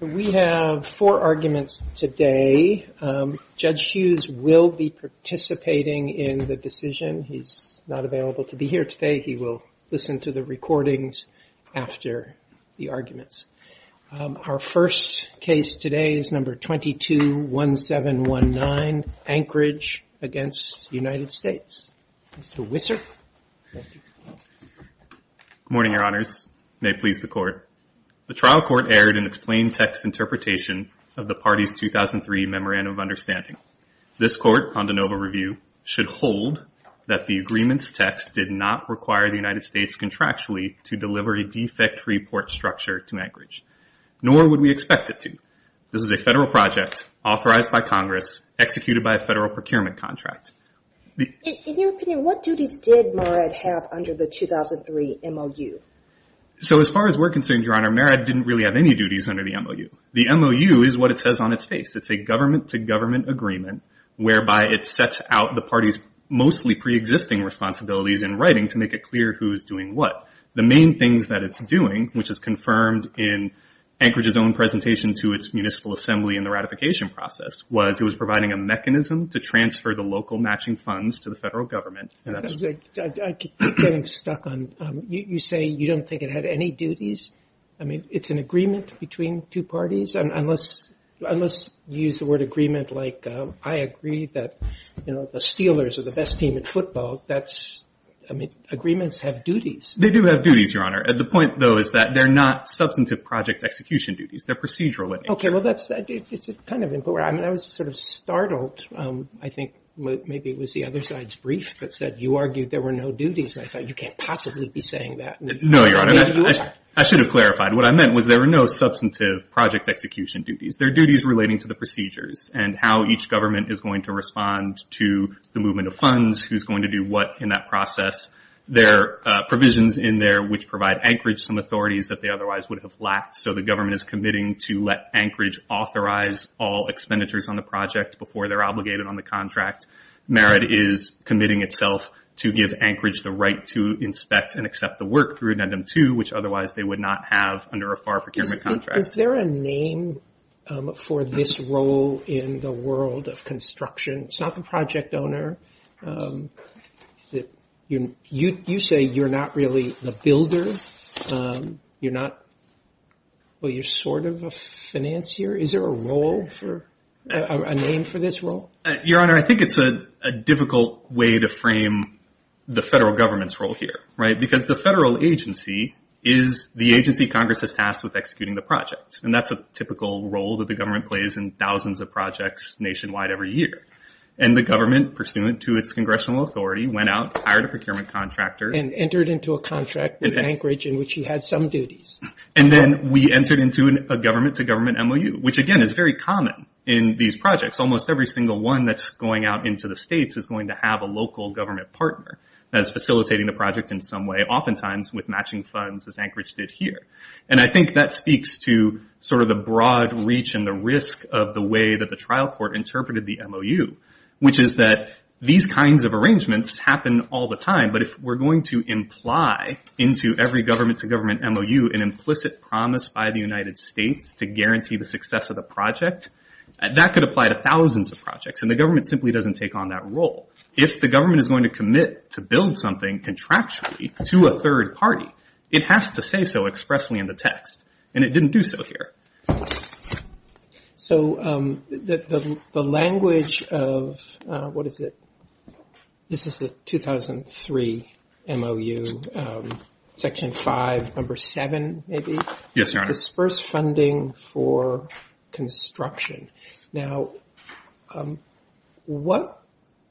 We have four arguments today. Judge Hughes will be participating in the decision. He's not available to be here today. He will listen to the recordings after the arguments. Our first case today is number 221719 Anchorage v. United States. Mr. Wisser. Good morning, your honors. May it please the court. The trial court erred in its plain text interpretation of the party's 2003 memorandum of understanding. This court, on de novo review, should hold that the agreement's text did not require the United States contractually to deliver a defect report structure to Anchorage. Nor would we expect it to. This is a federal project, authorized by Congress, executed by a federal procurement contract. In your opinion, what duties did Marad have under the 2003 MOU? So as far as we're concerned, your honor, Marad didn't really have any duties under the MOU. The MOU is what it says on its face. It's a government-to-government agreement whereby it sets out the party's mostly preexisting responsibilities in writing to make it clear who's doing what. The main things that it's doing, which is confirmed in Anchorage's own presentation to its municipal assembly in the ratification process, was it was providing a mechanism to transfer the local matching funds to the federal government. I keep getting stuck on, you say you don't think it had any duties? I mean, it's an agreement between two parties? Unless you use the word agreement like, I agree that the Steelers are the best team in football, that's, I mean, agreements have duties. They do have duties, your honor. The point, though, is that they're not substantive project execution duties. They're procedural. Okay, well, that's kind of important. I mean, I was sort of startled. I think maybe it was the other side's brief that said you argued there were no duties. I thought you can't possibly be saying that. No, your honor. I should have clarified. What I meant was there were no substantive project execution duties. There are duties relating to the procedures and how each government is going to respond to the movement of funds, who's going to do what in that process. There are provisions in there which provide Anchorage some authorities that they otherwise would have lacked, so the government is committing to let Anchorage authorize all expenditures on the project before they're obligated on the contract. Merit is committing itself to give Anchorage the right to inspect and accept the work through an endem two, which otherwise they would not have under a FAR procurement contract. Is there a name for this role in the world of construction? It's not the project owner. You say you're not really the builder. You're sort of a financier. Is there a name for this role? Your honor, I think it's a difficult way to frame the federal government's role here, because the federal agency is the agency Congress is tasked with executing the project, and that's a typical role that the government plays in thousands of projects nationwide every year. The government, pursuant to its congressional authority, went out, hired a procurement contractor, and entered into a contract with Anchorage in which he had some duties. Then we entered into a government-to-government MOU, which again is very common in these projects. Almost every single one that's going out into the states is going to have a local government partner that's facilitating the project in some way, oftentimes with matching funds as Anchorage did here. I think that speaks to the broad reach and the risk of the way that the trial court interpreted the MOU, which is that these kinds of arrangements happen all the time. If we're going to imply into every government-to-government MOU an implicit promise by the United States to guarantee the success of the project, that could apply to thousands of projects. The government simply doesn't take on that role. If the government is going to commit to build something contractually to a third party, it has to say so expressly in the text, and it didn't do so here. The language of, what is it? This is the 2003 MOU, section 5, number 7, maybe? Yes, Your Honor. Disperse funding for construction. Now,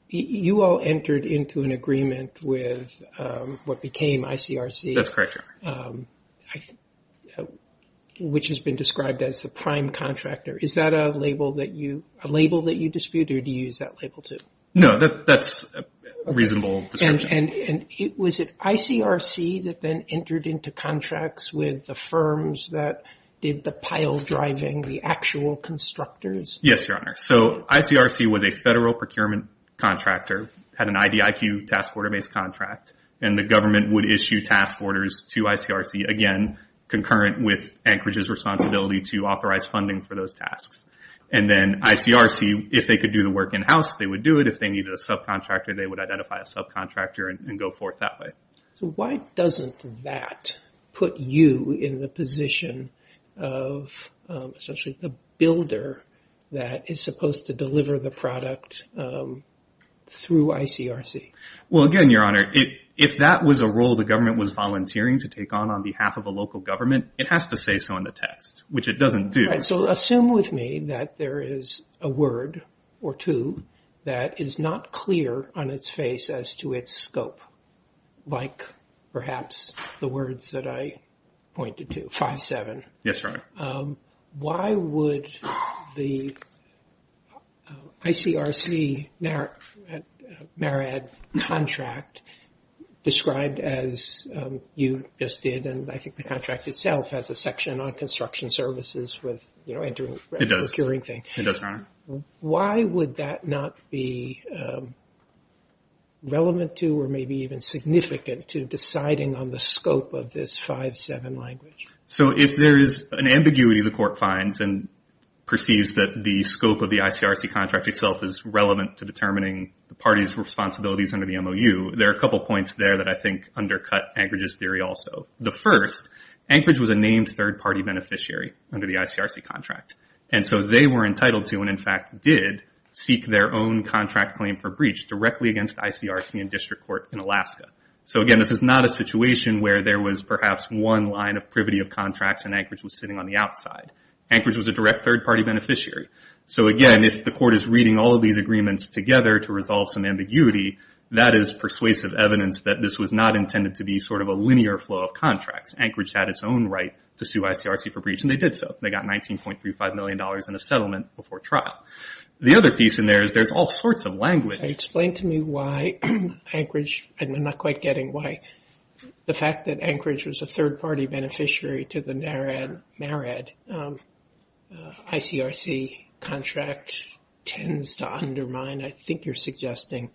you all entered into an agreement with what became ICRC. That's correct, Your Honor. Which has been described as the prime contractor. Is that a label that you dispute, or do you use that label, too? No, that's a reasonable description. Was it ICRC that then entered into contracts with the firms that did the pile driving, the actual constructors? Yes, Your Honor. ICRC was a federal procurement contractor, had an IDIQ task order-based contract. The government would issue task orders to ICRC, again, concurrent with Anchorage's responsibility to authorize funding for those tasks. Then ICRC, if they could do the work in-house, they would do it. If they needed a subcontractor, they would identify a subcontractor and go forth that way. Why doesn't that put you in the position of essentially the builder that is supposed to deliver the product through ICRC? Well, again, Your Honor, if that was a role the government was volunteering to take on on behalf of a local government, it has to say so in the text, which it doesn't do. So assume with me that there is a word or two that is not clear on its face as to its scope, like perhaps the words that I pointed to, 5-7. Yes, Your Honor. Why would the ICRC-MARAD contract, described as you just did, and I think the contract itself has a section on construction services with, you know, entering and procuring things. It does, Your Honor. Why would that not be relevant to or maybe even significant to deciding on the scope of this 5-7 language? So if there is an ambiguity the court finds and perceives that the scope of the ICRC contract itself is relevant to determining the party's responsibilities under the MOU, there are a couple points there that I think undercut Anchorage's theory also. The first, Anchorage was a named third-party beneficiary under the ICRC contract. And so they were entitled to and, in fact, did seek their own contract claim for breach directly against ICRC and district court in Alaska. So, again, this is not a situation where there was perhaps one line of privity of contracts and Anchorage was sitting on the outside. Anchorage was a direct third-party beneficiary. So, again, if the court is reading all of these agreements together to resolve some ambiguity, that is persuasive evidence that this was not intended to be sort of a linear flow of contracts. Anchorage had its own right to sue ICRC for breach, and they did so. They got $19.35 million in a settlement before trial. The other piece in there is there's all sorts of language. Explain to me why Anchorage, and I'm not quite getting why, the fact that Anchorage was a third-party beneficiary to the MARAD. ICRC contract tends to undermine, I think you're suggesting,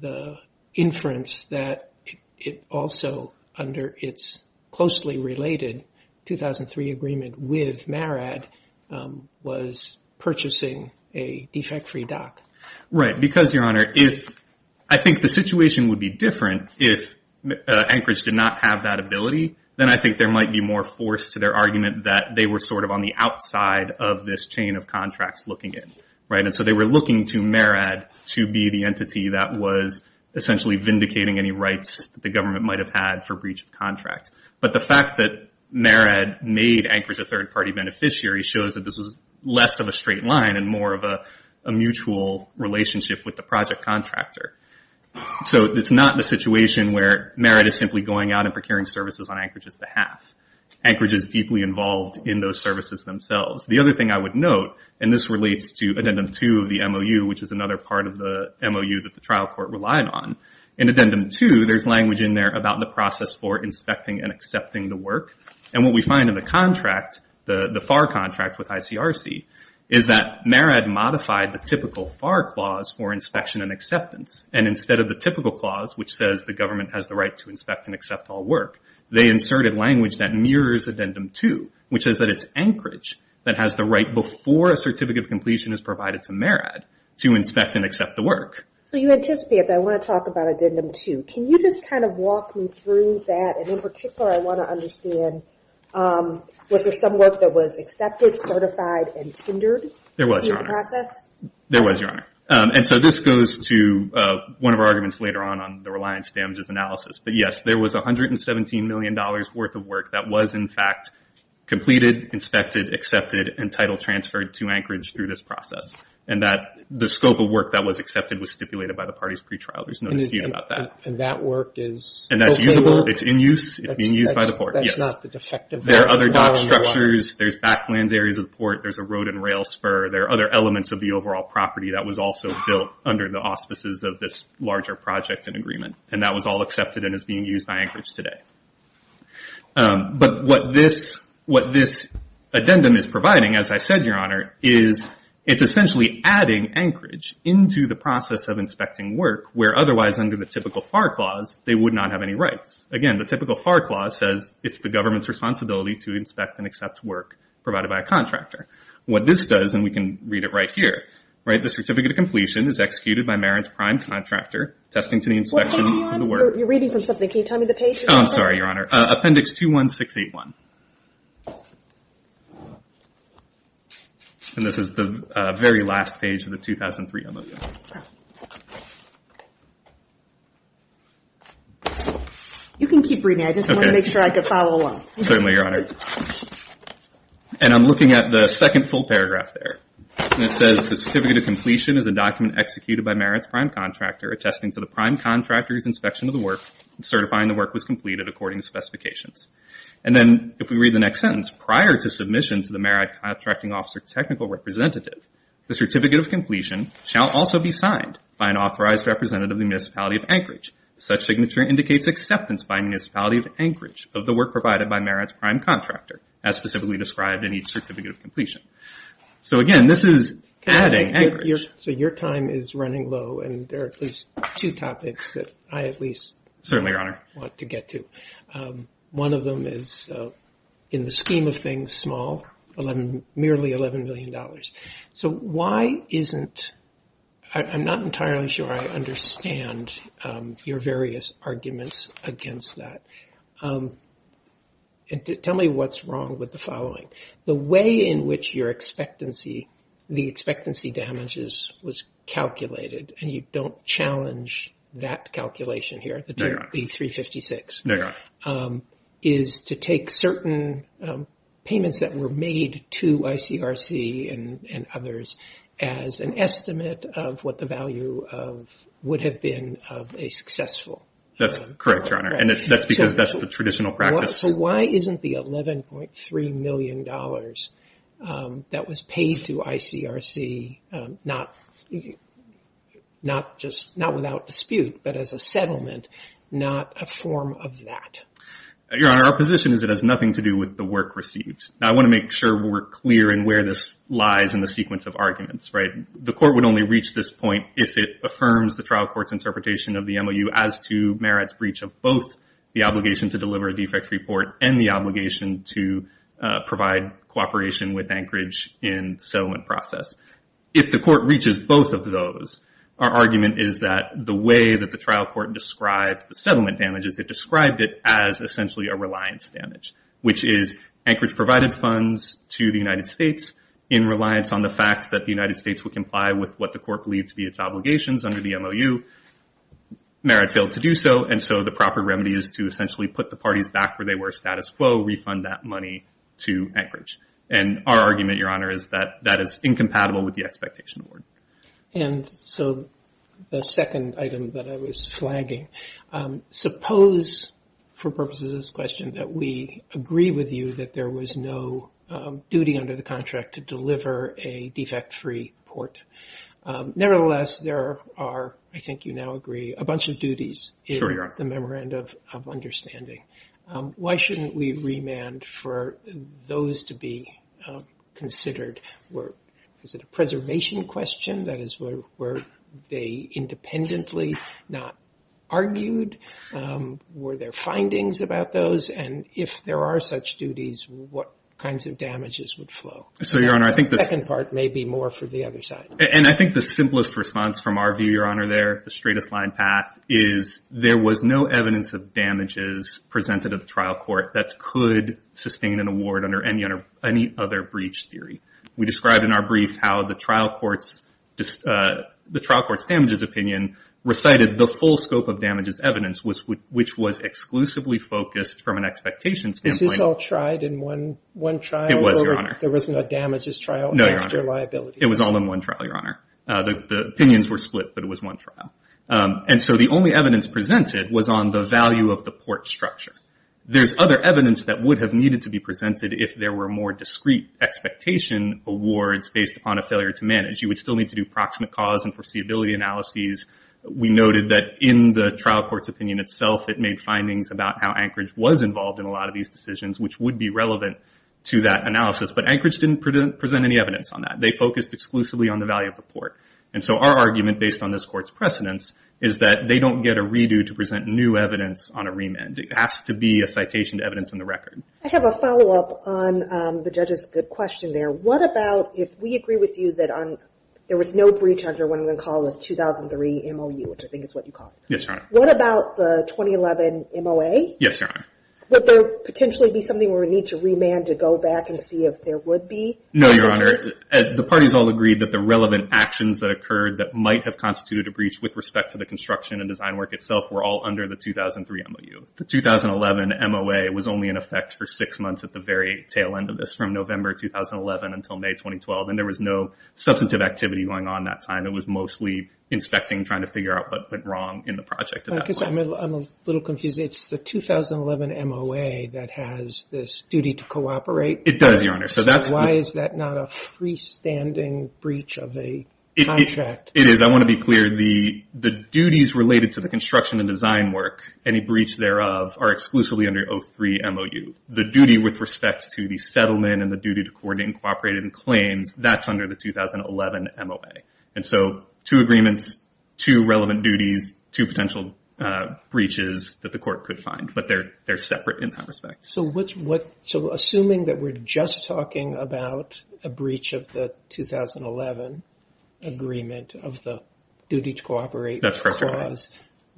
the inference that it also, under its closely related 2003 agreement with MARAD, was purchasing a defect-free doc. Right, because, Your Honor, I think the situation would be different if Anchorage did not have that ability. Then I think there might be more force to their argument that they were sort of on the outside of this chain of contracts looking in. And so they were looking to MARAD to be the entity that was essentially vindicating any rights the government might have had for breach of contract. But the fact that MARAD made Anchorage a third-party beneficiary shows that this was less of a straight line and more of a mutual relationship with the project contractor. So it's not a situation where MARAD is simply going out and procuring services on Anchorage's behalf. Anchorage is deeply involved in those services themselves. The other thing I would note, and this relates to Addendum 2 of the MOU, which is another part of the MOU that the trial court relied on. In Addendum 2, there's language in there about the process for inspecting and accepting the work. And what we find in the contract, the FAR contract with ICRC, is that MARAD modified the typical FAR clause for inspection and acceptance. And instead of the typical clause, which says the government has the right to inspect and accept all work, they inserted language that mirrors Addendum 2, which is that it's Anchorage that has the right before a certificate of completion is provided to MARAD to inspect and accept the work. So you anticipate that. I want to talk about Addendum 2. Can you just kind of walk me through that? And in particular, I want to understand, was there some work that was accepted, certified, and tendered in the process? There was, Your Honor. There was, Your Honor. And so this goes to one of our arguments later on, on the reliance damages analysis. But, yes, there was $117 million worth of work that was, in fact, completed, inspected, accepted, and title transferred to Anchorage through this process. And the scope of work that was accepted was stipulated by the party's pretrial. There's no dispute about that. And that work is- And that's usable. It's in use. It's being used by the Port, yes. That's not the defective- There are other dock structures. There's backlands areas of the Port. There's a road and rail spur. There are other elements of the overall property that was also built under the auspices of this larger project and agreement. And that was all accepted and is being used by Anchorage today. But what this addendum is providing, as I said, Your Honor, is it's essentially adding Anchorage into the process of inspecting work where otherwise, under the typical FAR clause, they would not have any rights. Again, the typical FAR clause says it's the government's responsibility to inspect and accept work provided by a contractor. What this does, and we can read it right here, right, the certificate of completion is executed by Marin's prime contractor, testing to the inspection of the work- Well, hang on. You're reading from something. Can you tell me the page? Oh, I'm sorry, Your Honor. Appendix 21681. And this is the very last page of the 2003 MOU. You can keep reading. I just wanted to make sure I could follow along. Certainly, Your Honor. And I'm looking at the second full paragraph there. And it says the certificate of completion is a document executed by Marin's prime contractor, attesting to the prime contractor's inspection of the work, certifying the work was completed according to specifications. And then if we read the next sentence, prior to submission to the Marin contracting officer technical representative, the certificate of completion shall also be signed by an authorized representative of the municipality of Anchorage. Such signature indicates acceptance by the municipality of Anchorage of the work provided by Marin's prime contractor, as specifically described in each certificate of completion. So, again, this is adding Anchorage. So your time is running low, and there are at least two topics that I at least want to get to. Certainly, Your Honor. One of them is, in the scheme of things, small, merely $11 million. So why isn't – I'm not entirely sure I understand your various arguments against that. Tell me what's wrong with the following. The way in which your expectancy, the expectancy damages was calculated, and you don't challenge that calculation here, the 356, is to take certain payments that were made to ICRC and others as an estimate of what the value would have been of a successful. That's correct, Your Honor. And that's because that's the traditional practice. So why isn't the $11.3 million that was paid to ICRC not just – not without dispute, but as a settlement, not a form of that? Your Honor, our position is it has nothing to do with the work received. Now, I want to make sure we're clear in where this lies in the sequence of arguments, right? The court would only reach this point if it affirms the trial court's interpretation of the MOU as to Merritt's breach of both the obligation to deliver a defect report and the obligation to provide cooperation with Anchorage in the settlement process. If the court reaches both of those, our argument is that the way that the trial court described the settlement damages, it described it as essentially a reliance damage, which is Anchorage provided funds to the United States in reliance on the fact that the United States would comply with what the court believed to be its obligations under the MOU. Merritt failed to do so, and so the proper remedy is to essentially put the parties back where they were status quo, refund that money to Anchorage. And our argument, Your Honor, is that that is incompatible with the expectation award. And so the second item that I was flagging, suppose for purposes of this question that we agree with you that there was no duty under the contract to deliver a defect-free report. Nevertheless, there are, I think you now agree, a bunch of duties in the memorandum of understanding. Why shouldn't we remand for those to be considered? Is it a preservation question? That is, were they independently not argued? Were there findings about those? And if there are such duties, what kinds of damages would flow? So, Your Honor, I think this The second part may be more for the other side. And I think the simplest response from our view, Your Honor, there, the straightest line path, is there was no evidence of damages presented at the trial court that could sustain an award under any other breach theory. We described in our brief how the trial court's damages opinion recited the full scope of damages evidence, which was exclusively focused from an expectation standpoint. This is all tried in one trial? It was, Your Honor. There was no damages trial against your liabilities? No, Your Honor. It was all in one trial, Your Honor. The opinions were split, but it was one trial. And so the only evidence presented was on the value of the port structure. There's other evidence that would have needed to be presented if there were more discrete expectation awards based upon a failure to manage. You would still need to do proximate cause and foreseeability analyses. We noted that in the trial court's opinion itself, it made findings about how Anchorage was involved in a lot of these decisions, which would be relevant to that analysis. But Anchorage didn't present any evidence on that. They focused exclusively on the value of the port. And so our argument, based on this court's precedence, is that they don't get a redo to present new evidence on a remand. It has to be a citation to evidence in the record. I have a follow-up on the judge's good question there. What about if we agree with you that there was no breach under what I'm going to call the 2003 MOU, which I think is what you called it. Yes, Your Honor. What about the 2011 MOA? Yes, Your Honor. Would there potentially be something where we need to remand to go back and see if there would be? No, Your Honor. The parties all agreed that the relevant actions that occurred that might have constituted a breach with respect to the construction and design work itself were all under the 2003 MOU. The 2011 MOA was only in effect for six months at the very tail end of this, from November 2011 until May 2012. And there was no substantive activity going on at that time. It was mostly inspecting, trying to figure out what went wrong in the project at that point. I'm a little confused. It's the 2011 MOA that has this duty to cooperate? It does, Your Honor. So why is that not a freestanding breach of a contract? It is. I want to be clear. The duties related to the construction and design work, any breach thereof, are exclusively under the 2003 MOU. The duty with respect to the settlement and the duty to coordinate and cooperate in claims, that's under the 2011 MOA. And so two agreements, two relevant duties, two potential breaches that the court could find, but they're separate in that respect. So assuming that we're just talking about a breach of the 2011 agreement of the duty to cooperate clause,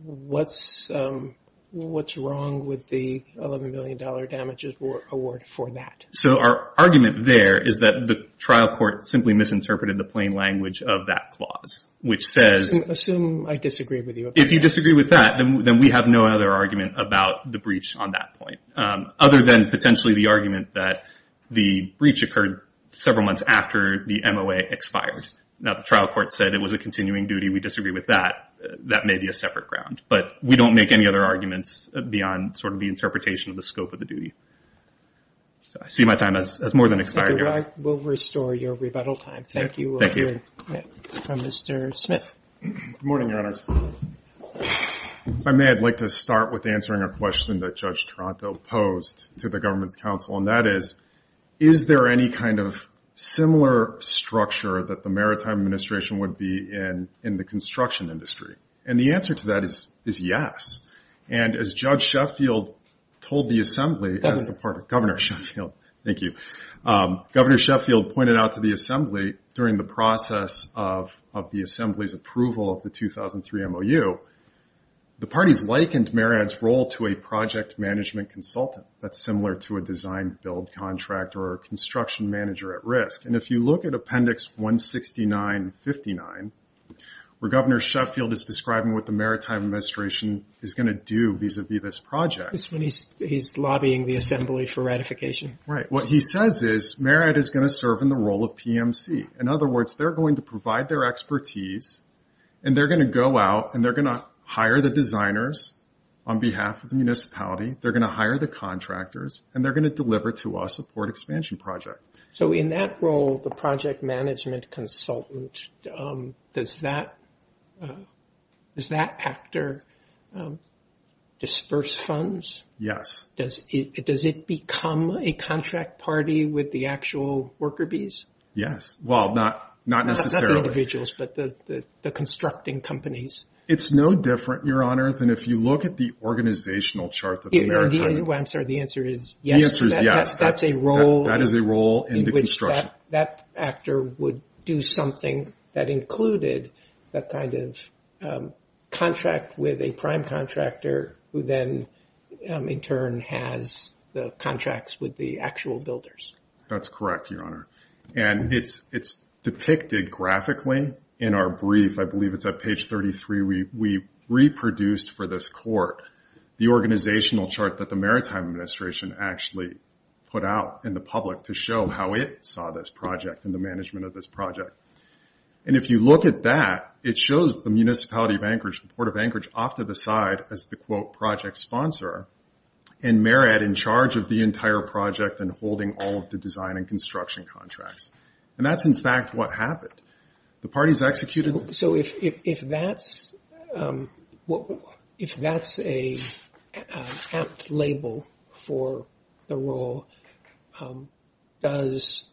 what's wrong with the $11 million damages award for that? So our argument there is that the trial court simply misinterpreted the plain language of that clause, which says... Assume I disagree with you. If you disagree with that, then we have no other argument about the breach on that point, other than potentially the argument that the breach occurred several months after the MOA expired. Now, the trial court said it was a continuing duty. We disagree with that. That may be a separate ground. But we don't make any other arguments beyond sort of the interpretation of the scope of the duty. I see my time has more than expired here. We'll restore your rebuttal time. Thank you. Thank you. Mr. Smith. Good morning, Your Honors. If I may, I'd like to start with answering a question that Judge Toronto posed to the Government's Council, and that is, is there any kind of similar structure that the Maritime Administration would be in in the construction industry? And the answer to that is yes. And as Judge Sheffield told the Assembly, Governor Sheffield, thank you, Governor Sheffield pointed out to the Assembly during the process of the Assembly's approval of the 2003 MOU, the parties likened MARAD's role to a project management consultant. That's similar to a design-build contract or a construction manager at risk. And if you look at Appendix 169-59, where Governor Sheffield is describing what the Maritime Administration is going to do vis-à-vis this project. That's when he's lobbying the Assembly for ratification. Right. What he says is MARAD is going to serve in the role of PMC. In other words, they're going to provide their expertise, and they're going to go out, and they're going to hire the designers on behalf of the municipality. They're going to hire the contractors, and they're going to deliver to us a port expansion project. So in that role, the project management consultant, does that actor disperse funds? Yes. Does it become a contract party with the actual worker bees? Yes. Well, not necessarily. Not the individuals, but the constructing companies. It's no different, Your Honor, than if you look at the organizational chart that the Maritime— I'm sorry, the answer is yes. The answer is yes. That's a role. In which that actor would do something that included that kind of contract with a prime contractor, who then in turn has the contracts with the actual builders. That's correct, Your Honor. And it's depicted graphically in our brief. I believe it's at page 33. We reproduced for this court the organizational chart that the Maritime Administration actually put out in the public to show how it saw this project and the management of this project. And if you look at that, it shows the municipality of Anchorage, the Port of Anchorage, off to the side as the, quote, project sponsor, and Marriott in charge of the entire project and holding all of the design and construction contracts. And that's, in fact, what happened. The parties executed— So if that's an apt label for the role, does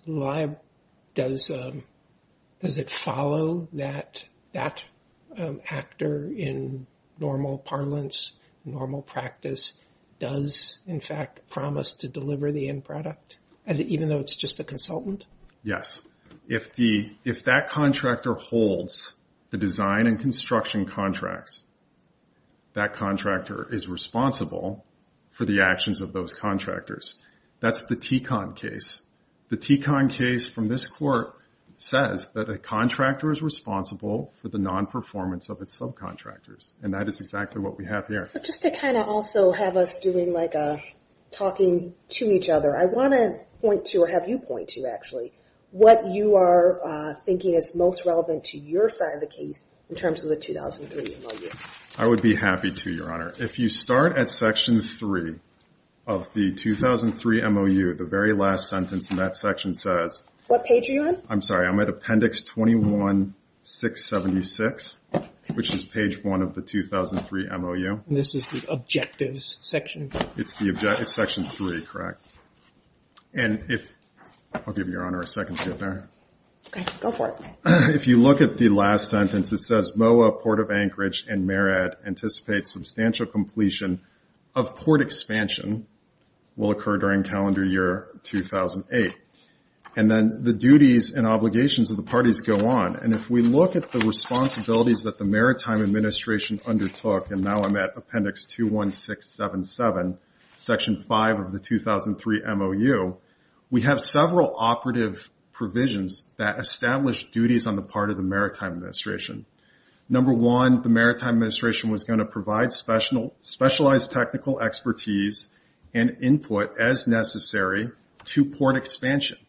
it follow that that actor in normal parlance, normal practice does, in fact, promise to deliver the end product, even though it's just a consultant? Yes. If that contractor holds the design and construction contracts, that contractor is responsible for the actions of those contractors. That's the TECON case. The TECON case from this court says that a contractor is responsible for the nonperformance of its subcontractors, and that is exactly what we have here. Just to kind of also have us doing like a talking to each other, I want to point to, or have you point to, actually, what you are thinking is most relevant to your side of the case in terms of the 2003 MOU. I would be happy to, Your Honor. If you start at Section 3 of the 2003 MOU, the very last sentence in that section says— What page are you on? I'm sorry. I'm at Appendix 21-676, which is page 1 of the 2003 MOU. And this is the objectives section? It's Section 3, correct? And if—I'll give you, Your Honor, a second to get there. Okay. Go for it. If you look at the last sentence, it says, MOA Port of Anchorage and Marriott anticipate substantial completion of port expansion will occur during calendar year 2008. And then the duties and obligations of the parties go on. And if we look at the responsibilities that the Maritime Administration undertook— Section 5 of the 2003 MOU— we have several operative provisions that establish duties on the part of the Maritime Administration. Number one, the Maritime Administration was going to provide specialized technical expertise and input as necessary to port expansion.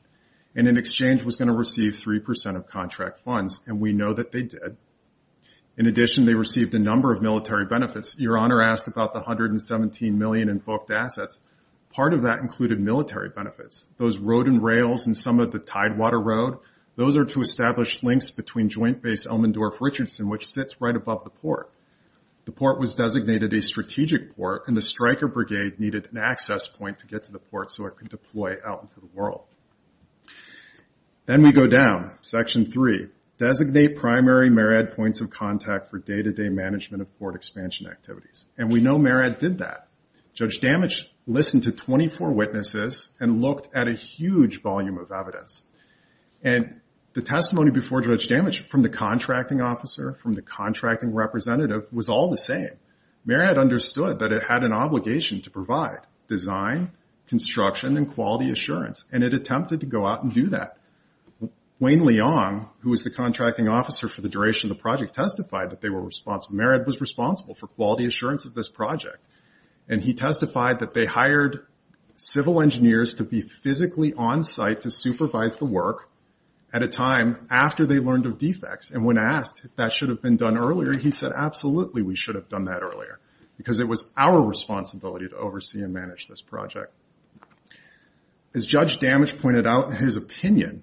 And in exchange was going to receive 3% of contract funds, and we know that they did. In addition, they received a number of military benefits. Your Honor asked about the $117 million invoked assets. Part of that included military benefits. Those road and rails and some of the Tidewater Road, those are to establish links between Joint Base Elmendorf-Richardson, which sits right above the port. The port was designated a strategic port, and the Stryker Brigade needed an access point to get to the port so it could deploy out into the world. Then we go down, Section 3. Designate primary MARAD points of contact for day-to-day management of port expansion activities. And we know MARAD did that. Judge Damage listened to 24 witnesses and looked at a huge volume of evidence. And the testimony before Judge Damage from the contracting officer, from the contracting representative, was all the same. MARAD understood that it had an obligation to provide design, construction, and quality assurance, and it attempted to go out and do that. Wayne Leong, who was the contracting officer for the duration of the project, testified that they were responsible. MARAD was responsible for quality assurance of this project. And he testified that they hired civil engineers to be physically on site to supervise the work at a time after they learned of defects. And when asked if that should have been done earlier, he said absolutely we should have done that earlier because it was our responsibility to oversee and manage this project. As Judge Damage pointed out in his opinion,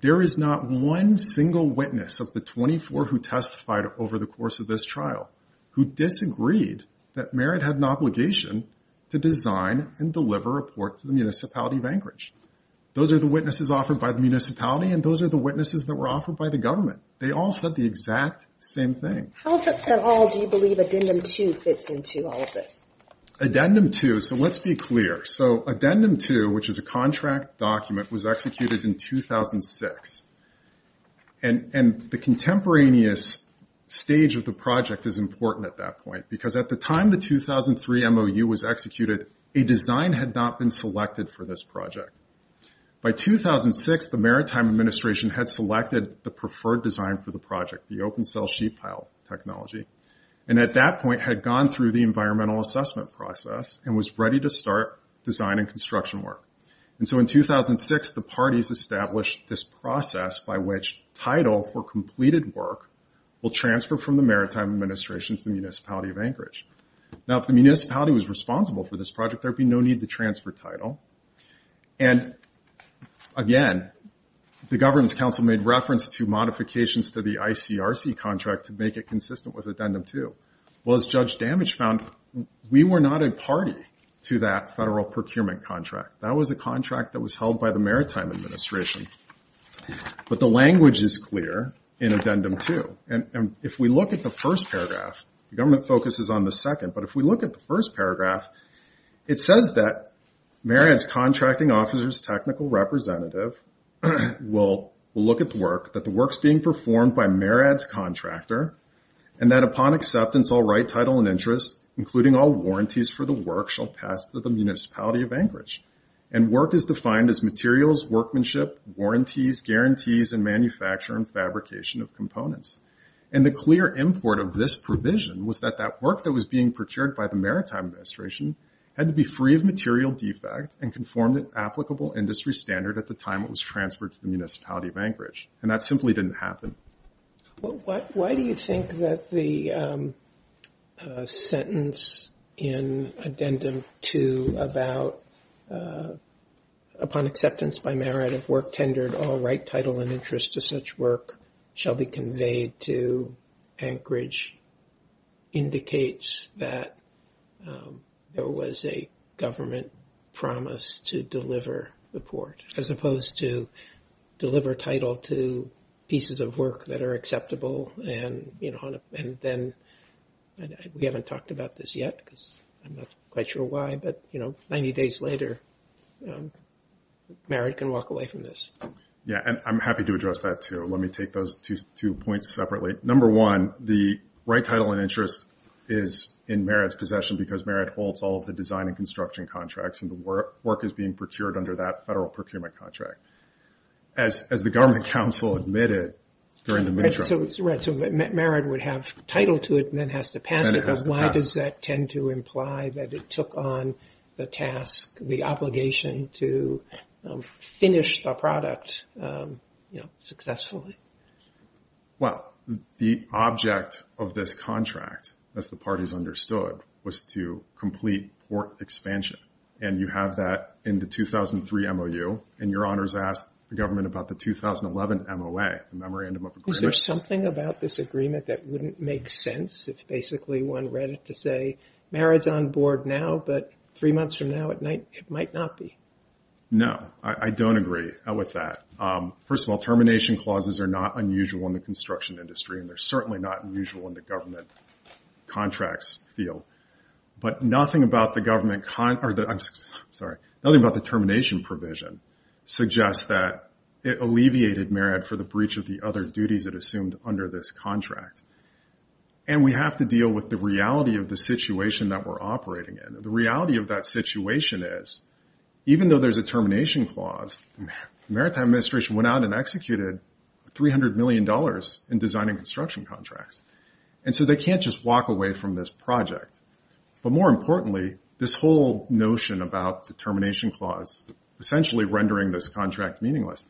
there is not one single witness of the 24 who testified over the course of this trial who disagreed that MARAD had an obligation to design and deliver a port to the municipality of Anchorage. Those are the witnesses offered by the municipality, and those are the witnesses that were offered by the government. They all said the exact same thing. How at all do you believe Addendum 2 fits into all of this? Addendum 2, so let's be clear. So Addendum 2, which is a contract document, was executed in 2006. And the contemporaneous stage of the project is important at that point because at the time the 2003 MOU was executed, a design had not been selected for this project. By 2006, the Maritime Administration had selected the preferred design for the project, the open-cell sheet pile technology, and at that point had gone through the environmental assessment process and was ready to start design and construction work. And so in 2006, the parties established this process by which title for completed work will transfer from the Maritime Administration to the municipality of Anchorage. Now if the municipality was responsible for this project, there would be no need to transfer title. And again, the Governance Council made reference to modifications to the ICRC contract to make it consistent with Addendum 2. Well, as Judge Damage found, we were not a party to that federal procurement contract. That was a contract that was held by the Maritime Administration. But the language is clear in Addendum 2. And if we look at the first paragraph, the government focuses on the second, but if we look at the first paragraph, it says that Marriott's contracting officer's technical representative will look at the work, that the work's being performed by Marriott's contractor, and that upon acceptance I'll write title and interest, including all warranties for the work shall pass to the municipality of Anchorage. And work is defined as materials, workmanship, warranties, guarantees, and manufacture and fabrication of components. And the clear import of this provision was that that work that was being procured by the Maritime Administration had to be free of material defects and conform to applicable industry standard at the time it was transferred to the municipality of Anchorage. And that simply didn't happen. Why do you think that the sentence in Addendum 2 about, upon acceptance by Marriott of work tendered, all right title and interest to such work shall be conveyed to Anchorage, indicates that there was a government promise to deliver the port, as opposed to deliver title to pieces of work that are acceptable, and then we haven't talked about this yet because I'm not quite sure why, but 90 days later Marriott can walk away from this. Yeah, and I'm happy to address that too. Let me take those two points separately. Number one, the right title and interest is in Marriott's possession because Marriott holds all of the design and construction contracts, and the work is being procured under that federal procurement contract. As the government counsel admitted during the midterm. Right, so Marriott would have title to it and then has to pass it. Why does that tend to imply that it took on the task, the obligation to finish the product successfully? Well, the object of this contract, as the parties understood, was to complete port expansion. And you have that in the 2003 MOU, and your honors asked the government about the 2011 MOA, the memorandum of agreement. Is there something about this agreement that wouldn't make sense if basically one read it to say Marriott's on board now, but three months from now it might not be? No, I don't agree with that. First of all, termination clauses are not unusual in the construction industry, and they're certainly not unusual in the government contracts field. But nothing about the termination provision suggests that it alleviated Marriott for the breach of the other duties it assumed under this contract. And we have to deal with the reality of the situation that we're operating in. The reality of that situation is, even though there's a termination clause, Maritime Administration went out and executed $300 million in designing construction contracts. And so they can't just walk away from this project. But more importantly, this whole notion about the termination clause essentially rendering this contract meaningless,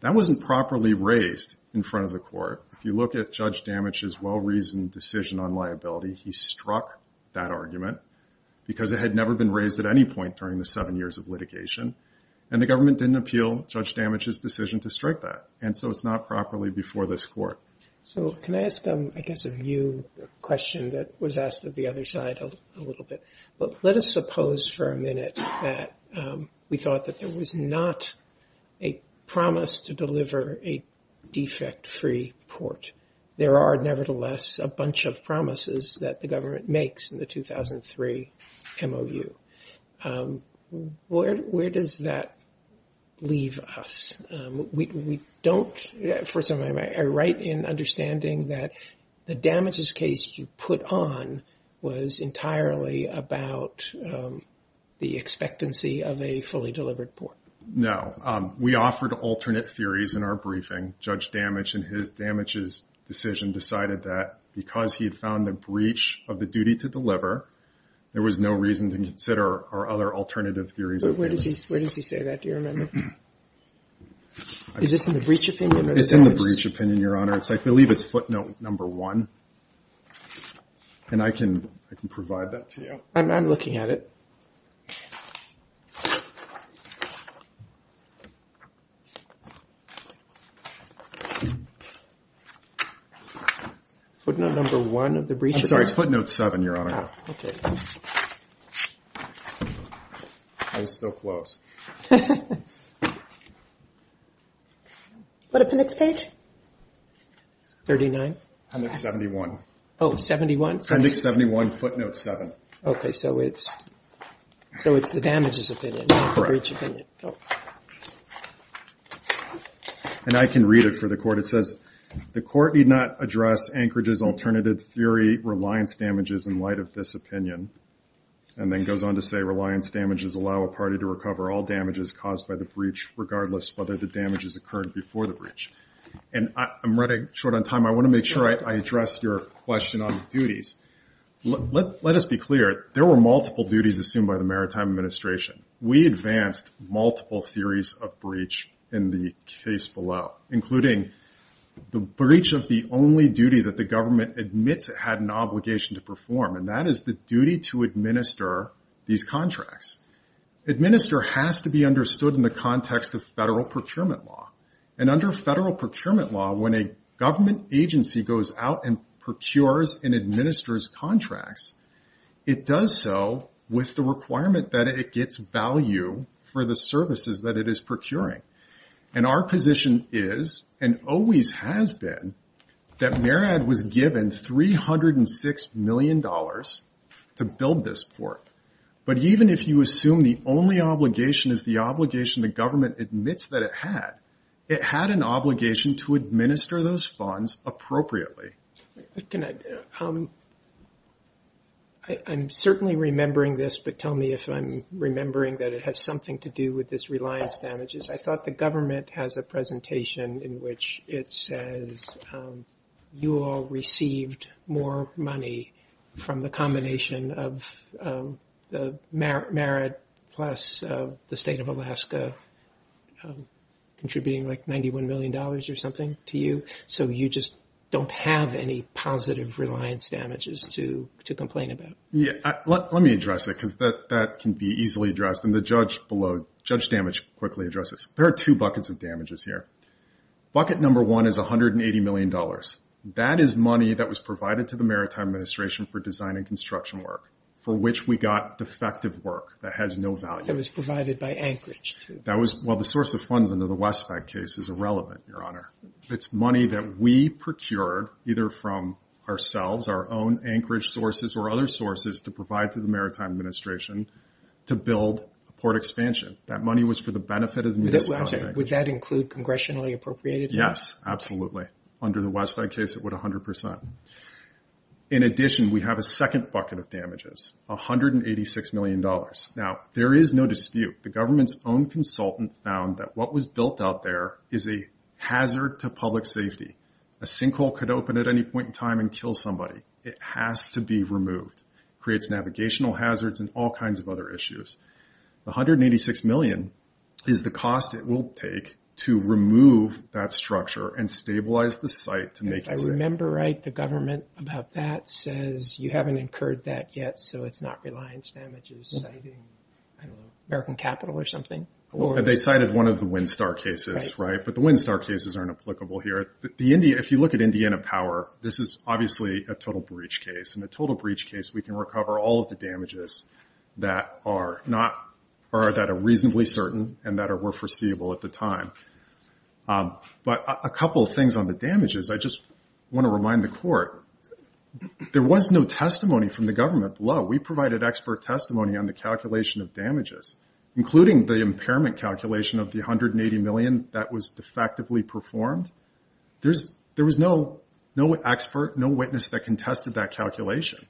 that wasn't properly raised in front of the court. If you look at Judge Damage's well-reasoned decision on liability, he struck that argument because it had never been raised at any point during the seven years of litigation, and the government didn't appeal Judge Damage's decision to strike that. And so it's not properly before this court. So can I ask, I guess, a new question that was asked of the other side a little bit? Let us suppose for a minute that we thought that there was not a promise to deliver a defect-free port. There are, nevertheless, a bunch of promises that the government makes in the 2003 MOU. Where does that leave us? First of all, am I right in understanding that the Damage's case you put on was entirely about the expectancy of a fully delivered port? No. We offered alternate theories in our briefing. Judge Damage, in his Damage's decision, decided that because he had found the breach of the duty to deliver, there was no reason to consider our other alternative theories. Where does he say that? Do you remember? Is this in the breach opinion? It's in the breach opinion, Your Honor. I believe it's footnote number one, and I can provide that to you. I'm looking at it. Footnote number one of the breach opinion? I'm sorry, it's footnote seven, Your Honor. Oh, okay. I was so close. What appendix page? 39. Appendix 71. Oh, 71? Appendix 71, footnote seven. Okay, so it's the Damage's opinion, not the breach opinion. Correct. And I can read it for the Court. It says, the Court need not address Anchorage's alternative theory, Reliance Damages, in light of this opinion. And then it goes on to say, Reliance Damages allow a party to recover all damages caused by the breach, regardless of whether the damage has occurred before the breach. And I'm running short on time. I want to make sure I address your question on duties. Let us be clear. There were multiple duties assumed by the Maritime Administration. We advanced multiple theories of breach in the case below, including the breach of the only duty that the government admits it had an obligation to perform, and that is the duty to administer these contracts. Administer has to be understood in the context of federal procurement law. And under federal procurement law, when a government agency goes out and procures and administers contracts, it does so with the requirement that it gets value for the services that it is procuring. And our position is, and always has been, that MARAD was given $306 million to build this port. But even if you assume the only obligation is the obligation the government admits that it had, it had an obligation to administer those funds appropriately. I'm certainly remembering this, but tell me if I'm remembering that it has something to do with this Reliance damages. I thought the government has a presentation in which it says, you all received more money from the combination of the MARAD plus the State of Alaska contributing like $91 million or something to you. So you just don't have any positive Reliance damages to complain about. Yeah. Let me address that because that can be easily addressed. And the judge below, Judge Damage quickly addresses. There are two buckets of damages here. Bucket number one is $180 million. That is money that was provided to the Maritime Administration for design and construction work for which we got defective work that has no value. That was provided by Anchorage. That was, well, the source of funds under the Westpac case is irrelevant, Your Honor. It's money that we procured either from ourselves, our own Anchorage sources or other sources to provide to the Maritime Administration to build a port expansion. That money was for the benefit of the Maritime Administration. Would that include congressionally appropriated? Yes, absolutely. Under the Westpac case, it would 100%. In addition, we have a second bucket of damages, $186 million. Now, there is no dispute. The government's own consultant found that what was built out there is a hazard to public safety. A sinkhole could open at any point in time and kill somebody. It has to be removed. It creates navigational hazards and all kinds of other issues. The $186 million is the cost it will take to remove that structure and stabilize the site to make it safe. I remember, right, the government about that says you haven't incurred that yet so it's not reliance damages citing, I don't know, American Capital or something? They cited one of the Windstar cases, right? But the Windstar cases aren't applicable here. If you look at Indiana Power, this is obviously a total breach case. In a total breach case, we can recover all of the damages that are reasonably certain and that were foreseeable at the time. But a couple of things on the damages. I just want to remind the court, there was no testimony from the government below. We provided expert testimony on the calculation of damages, including the impairment calculation of the $180 million that was defectively performed. There was no expert, no witness that contested that calculation.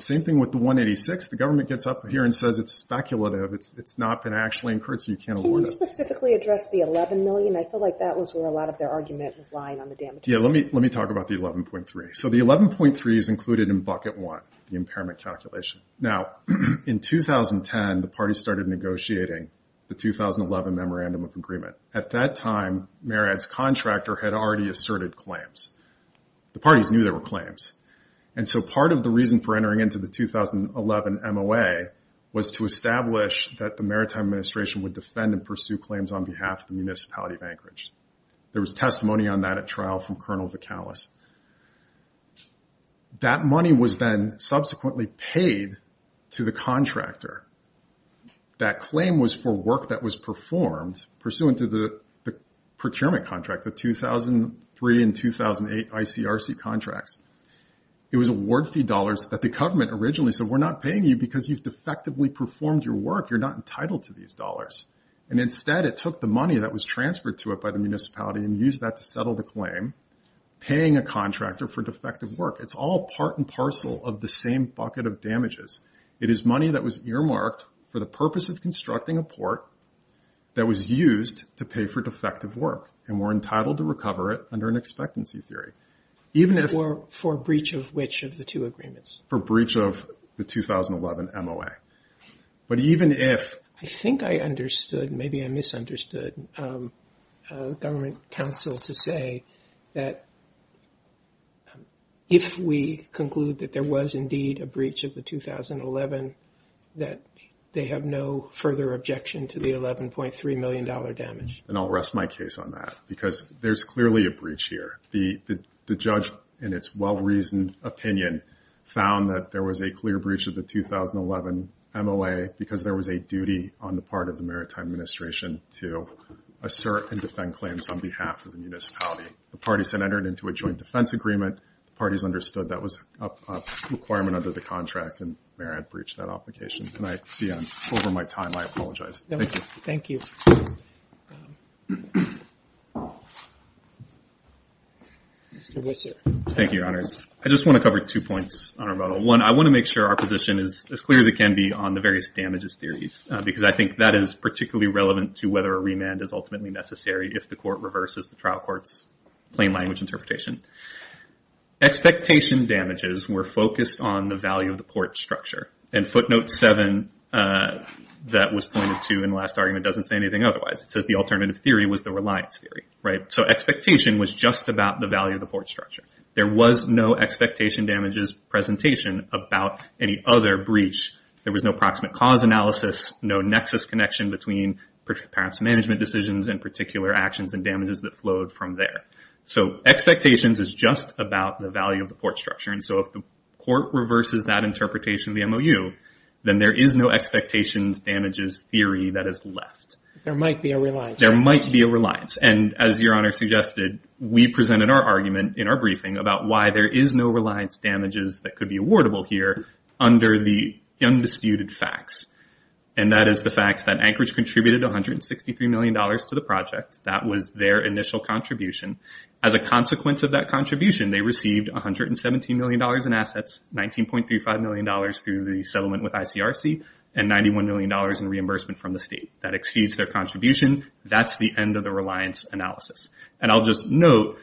Same thing with the $186 million. The government gets up here and says it's speculative, it's not been actually incurred so you can't award it. Can you specifically address the $11 million? I feel like that was where a lot of their argument was lying on the damages. Yeah, let me talk about the $11.3 million. So the $11.3 million is included in bucket one, the impairment calculation. Now, in 2010, the parties started negotiating the 2011 Memorandum of Agreement. At that time, Marriott's contractor had already asserted claims. The parties knew there were claims. And so part of the reason for entering into the 2011 MOA was to establish that the Maritime Administration would defend and pursue claims on behalf of the municipality of Anchorage. There was testimony on that at trial from Colonel Vicalis. That money was then subsequently paid to the contractor. That claim was for work that was performed, pursuant to the procurement contract, the 2003 and 2008 ICRC contracts. It was award fee dollars that the government originally said, we're not paying you because you've defectively performed your work. You're not entitled to these dollars. And instead, it took the money that was transferred to it by the municipality and used that to settle the claim, paying a contractor for defective work. It's all part and parcel of the same bucket of damages. It is money that was earmarked for the purpose of constructing a port that was used to pay for defective work. And we're entitled to recover it under an expectancy theory. For breach of which of the two agreements? For breach of the 2011 MOA. But even if... I think I understood, maybe I misunderstood, government counsel to say that if we conclude that there was indeed a breach of the 2011, that they have no further objection to the $11.3 million damage. And I'll rest my case on that. Because there's clearly a breach here. The judge, in its well-reasoned opinion, found that there was a clear breach of the 2011 MOA because there was a duty on the part of the Maritime Administration to assert and defend claims on behalf of the municipality. The parties had entered into a joint defense agreement. The parties understood that was a requirement under the contract, and the mayor had breached that obligation. And I see, over my time, I apologize. Thank you. Thank you, Your Honors. I just want to cover two points on our model. One, I want to make sure our position is as clear as it can be on the various damages theories. Because I think that is particularly relevant to whether a remand is ultimately necessary if the court reverses the trial court's plain language interpretation. Expectation damages were focused on the value of the port structure. And footnote 7 that was pointed to in the last argument doesn't say anything otherwise. It says the alternative theory was the reliance theory. So expectation was just about the value of the port structure. There was no expectation damages presentation about any other breach. There was no approximate cause analysis, no nexus connection between perhaps management decisions and particular actions and damages that flowed from there. So expectations is just about the value of the port structure. And so if the court reverses that interpretation of the MOU, then there is no expectations damages theory that is left. There might be a reliance. There might be a reliance. And as Your Honor suggested, we presented our argument in our briefing about why there is no reliance damages that could be awardable here under the undisputed facts. And that is the fact that Anchorage contributed $163 million to the project. That was their initial contribution. As a consequence of that contribution, they received $117 million in assets, $19.35 million through the settlement with ICRC, and $91 million in reimbursement from the state. That exceeds their contribution. That's the end of the reliance analysis. And I'll just note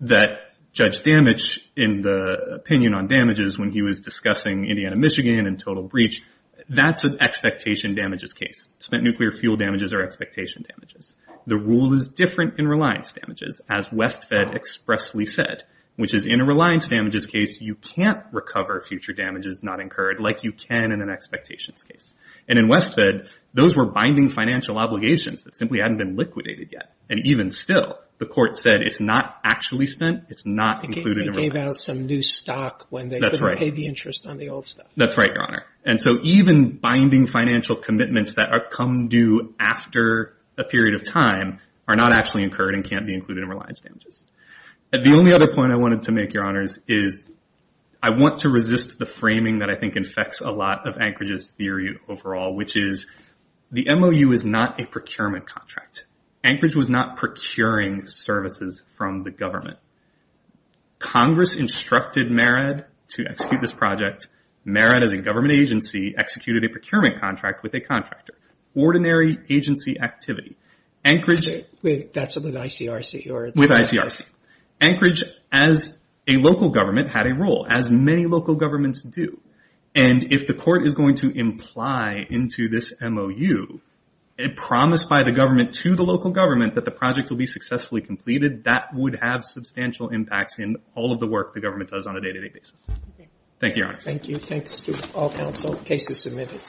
that Judge Damage, in the opinion on damages, when he was discussing Indiana-Michigan and total breach, that's an expectation damages case. Spent nuclear fuel damages are expectation damages. The rule is different in reliance damages, as West Fed expressly said, which is in a reliance damages case, you can't recover future damages not incurred like you can in an expectations case. And in West Fed, those were binding financial obligations that simply hadn't been liquidated yet. And even still, the court said it's not actually spent. It's not included in reliance. They gave out some new stock when they didn't pay the interest on the old stuff. That's right, Your Honor. And so even binding financial commitments that come due after a period of time are not actually incurred and can't be included in reliance damages. The only other point I wanted to make, Your Honors, is I want to resist the framing that I think infects a lot of Anchorage's theory overall, which is the MOU is not a procurement contract. Anchorage was not procuring services from the government. Congress instructed MERAD to execute this project. MERAD, as a government agency, executed a procurement contract with a contractor. Ordinary agency activity. Anchorage. That's with ICRC. With ICRC. Anchorage, as a local government, had a role, as many local governments do. And if the court is going to imply into this MOU a promise by the government to the local government that the project will be successfully completed, that would have substantial impacts in all of the work the government does on a day-to-day basis. Thank you, Your Honors. Thank you. Thanks to all counsel. The case is submitted.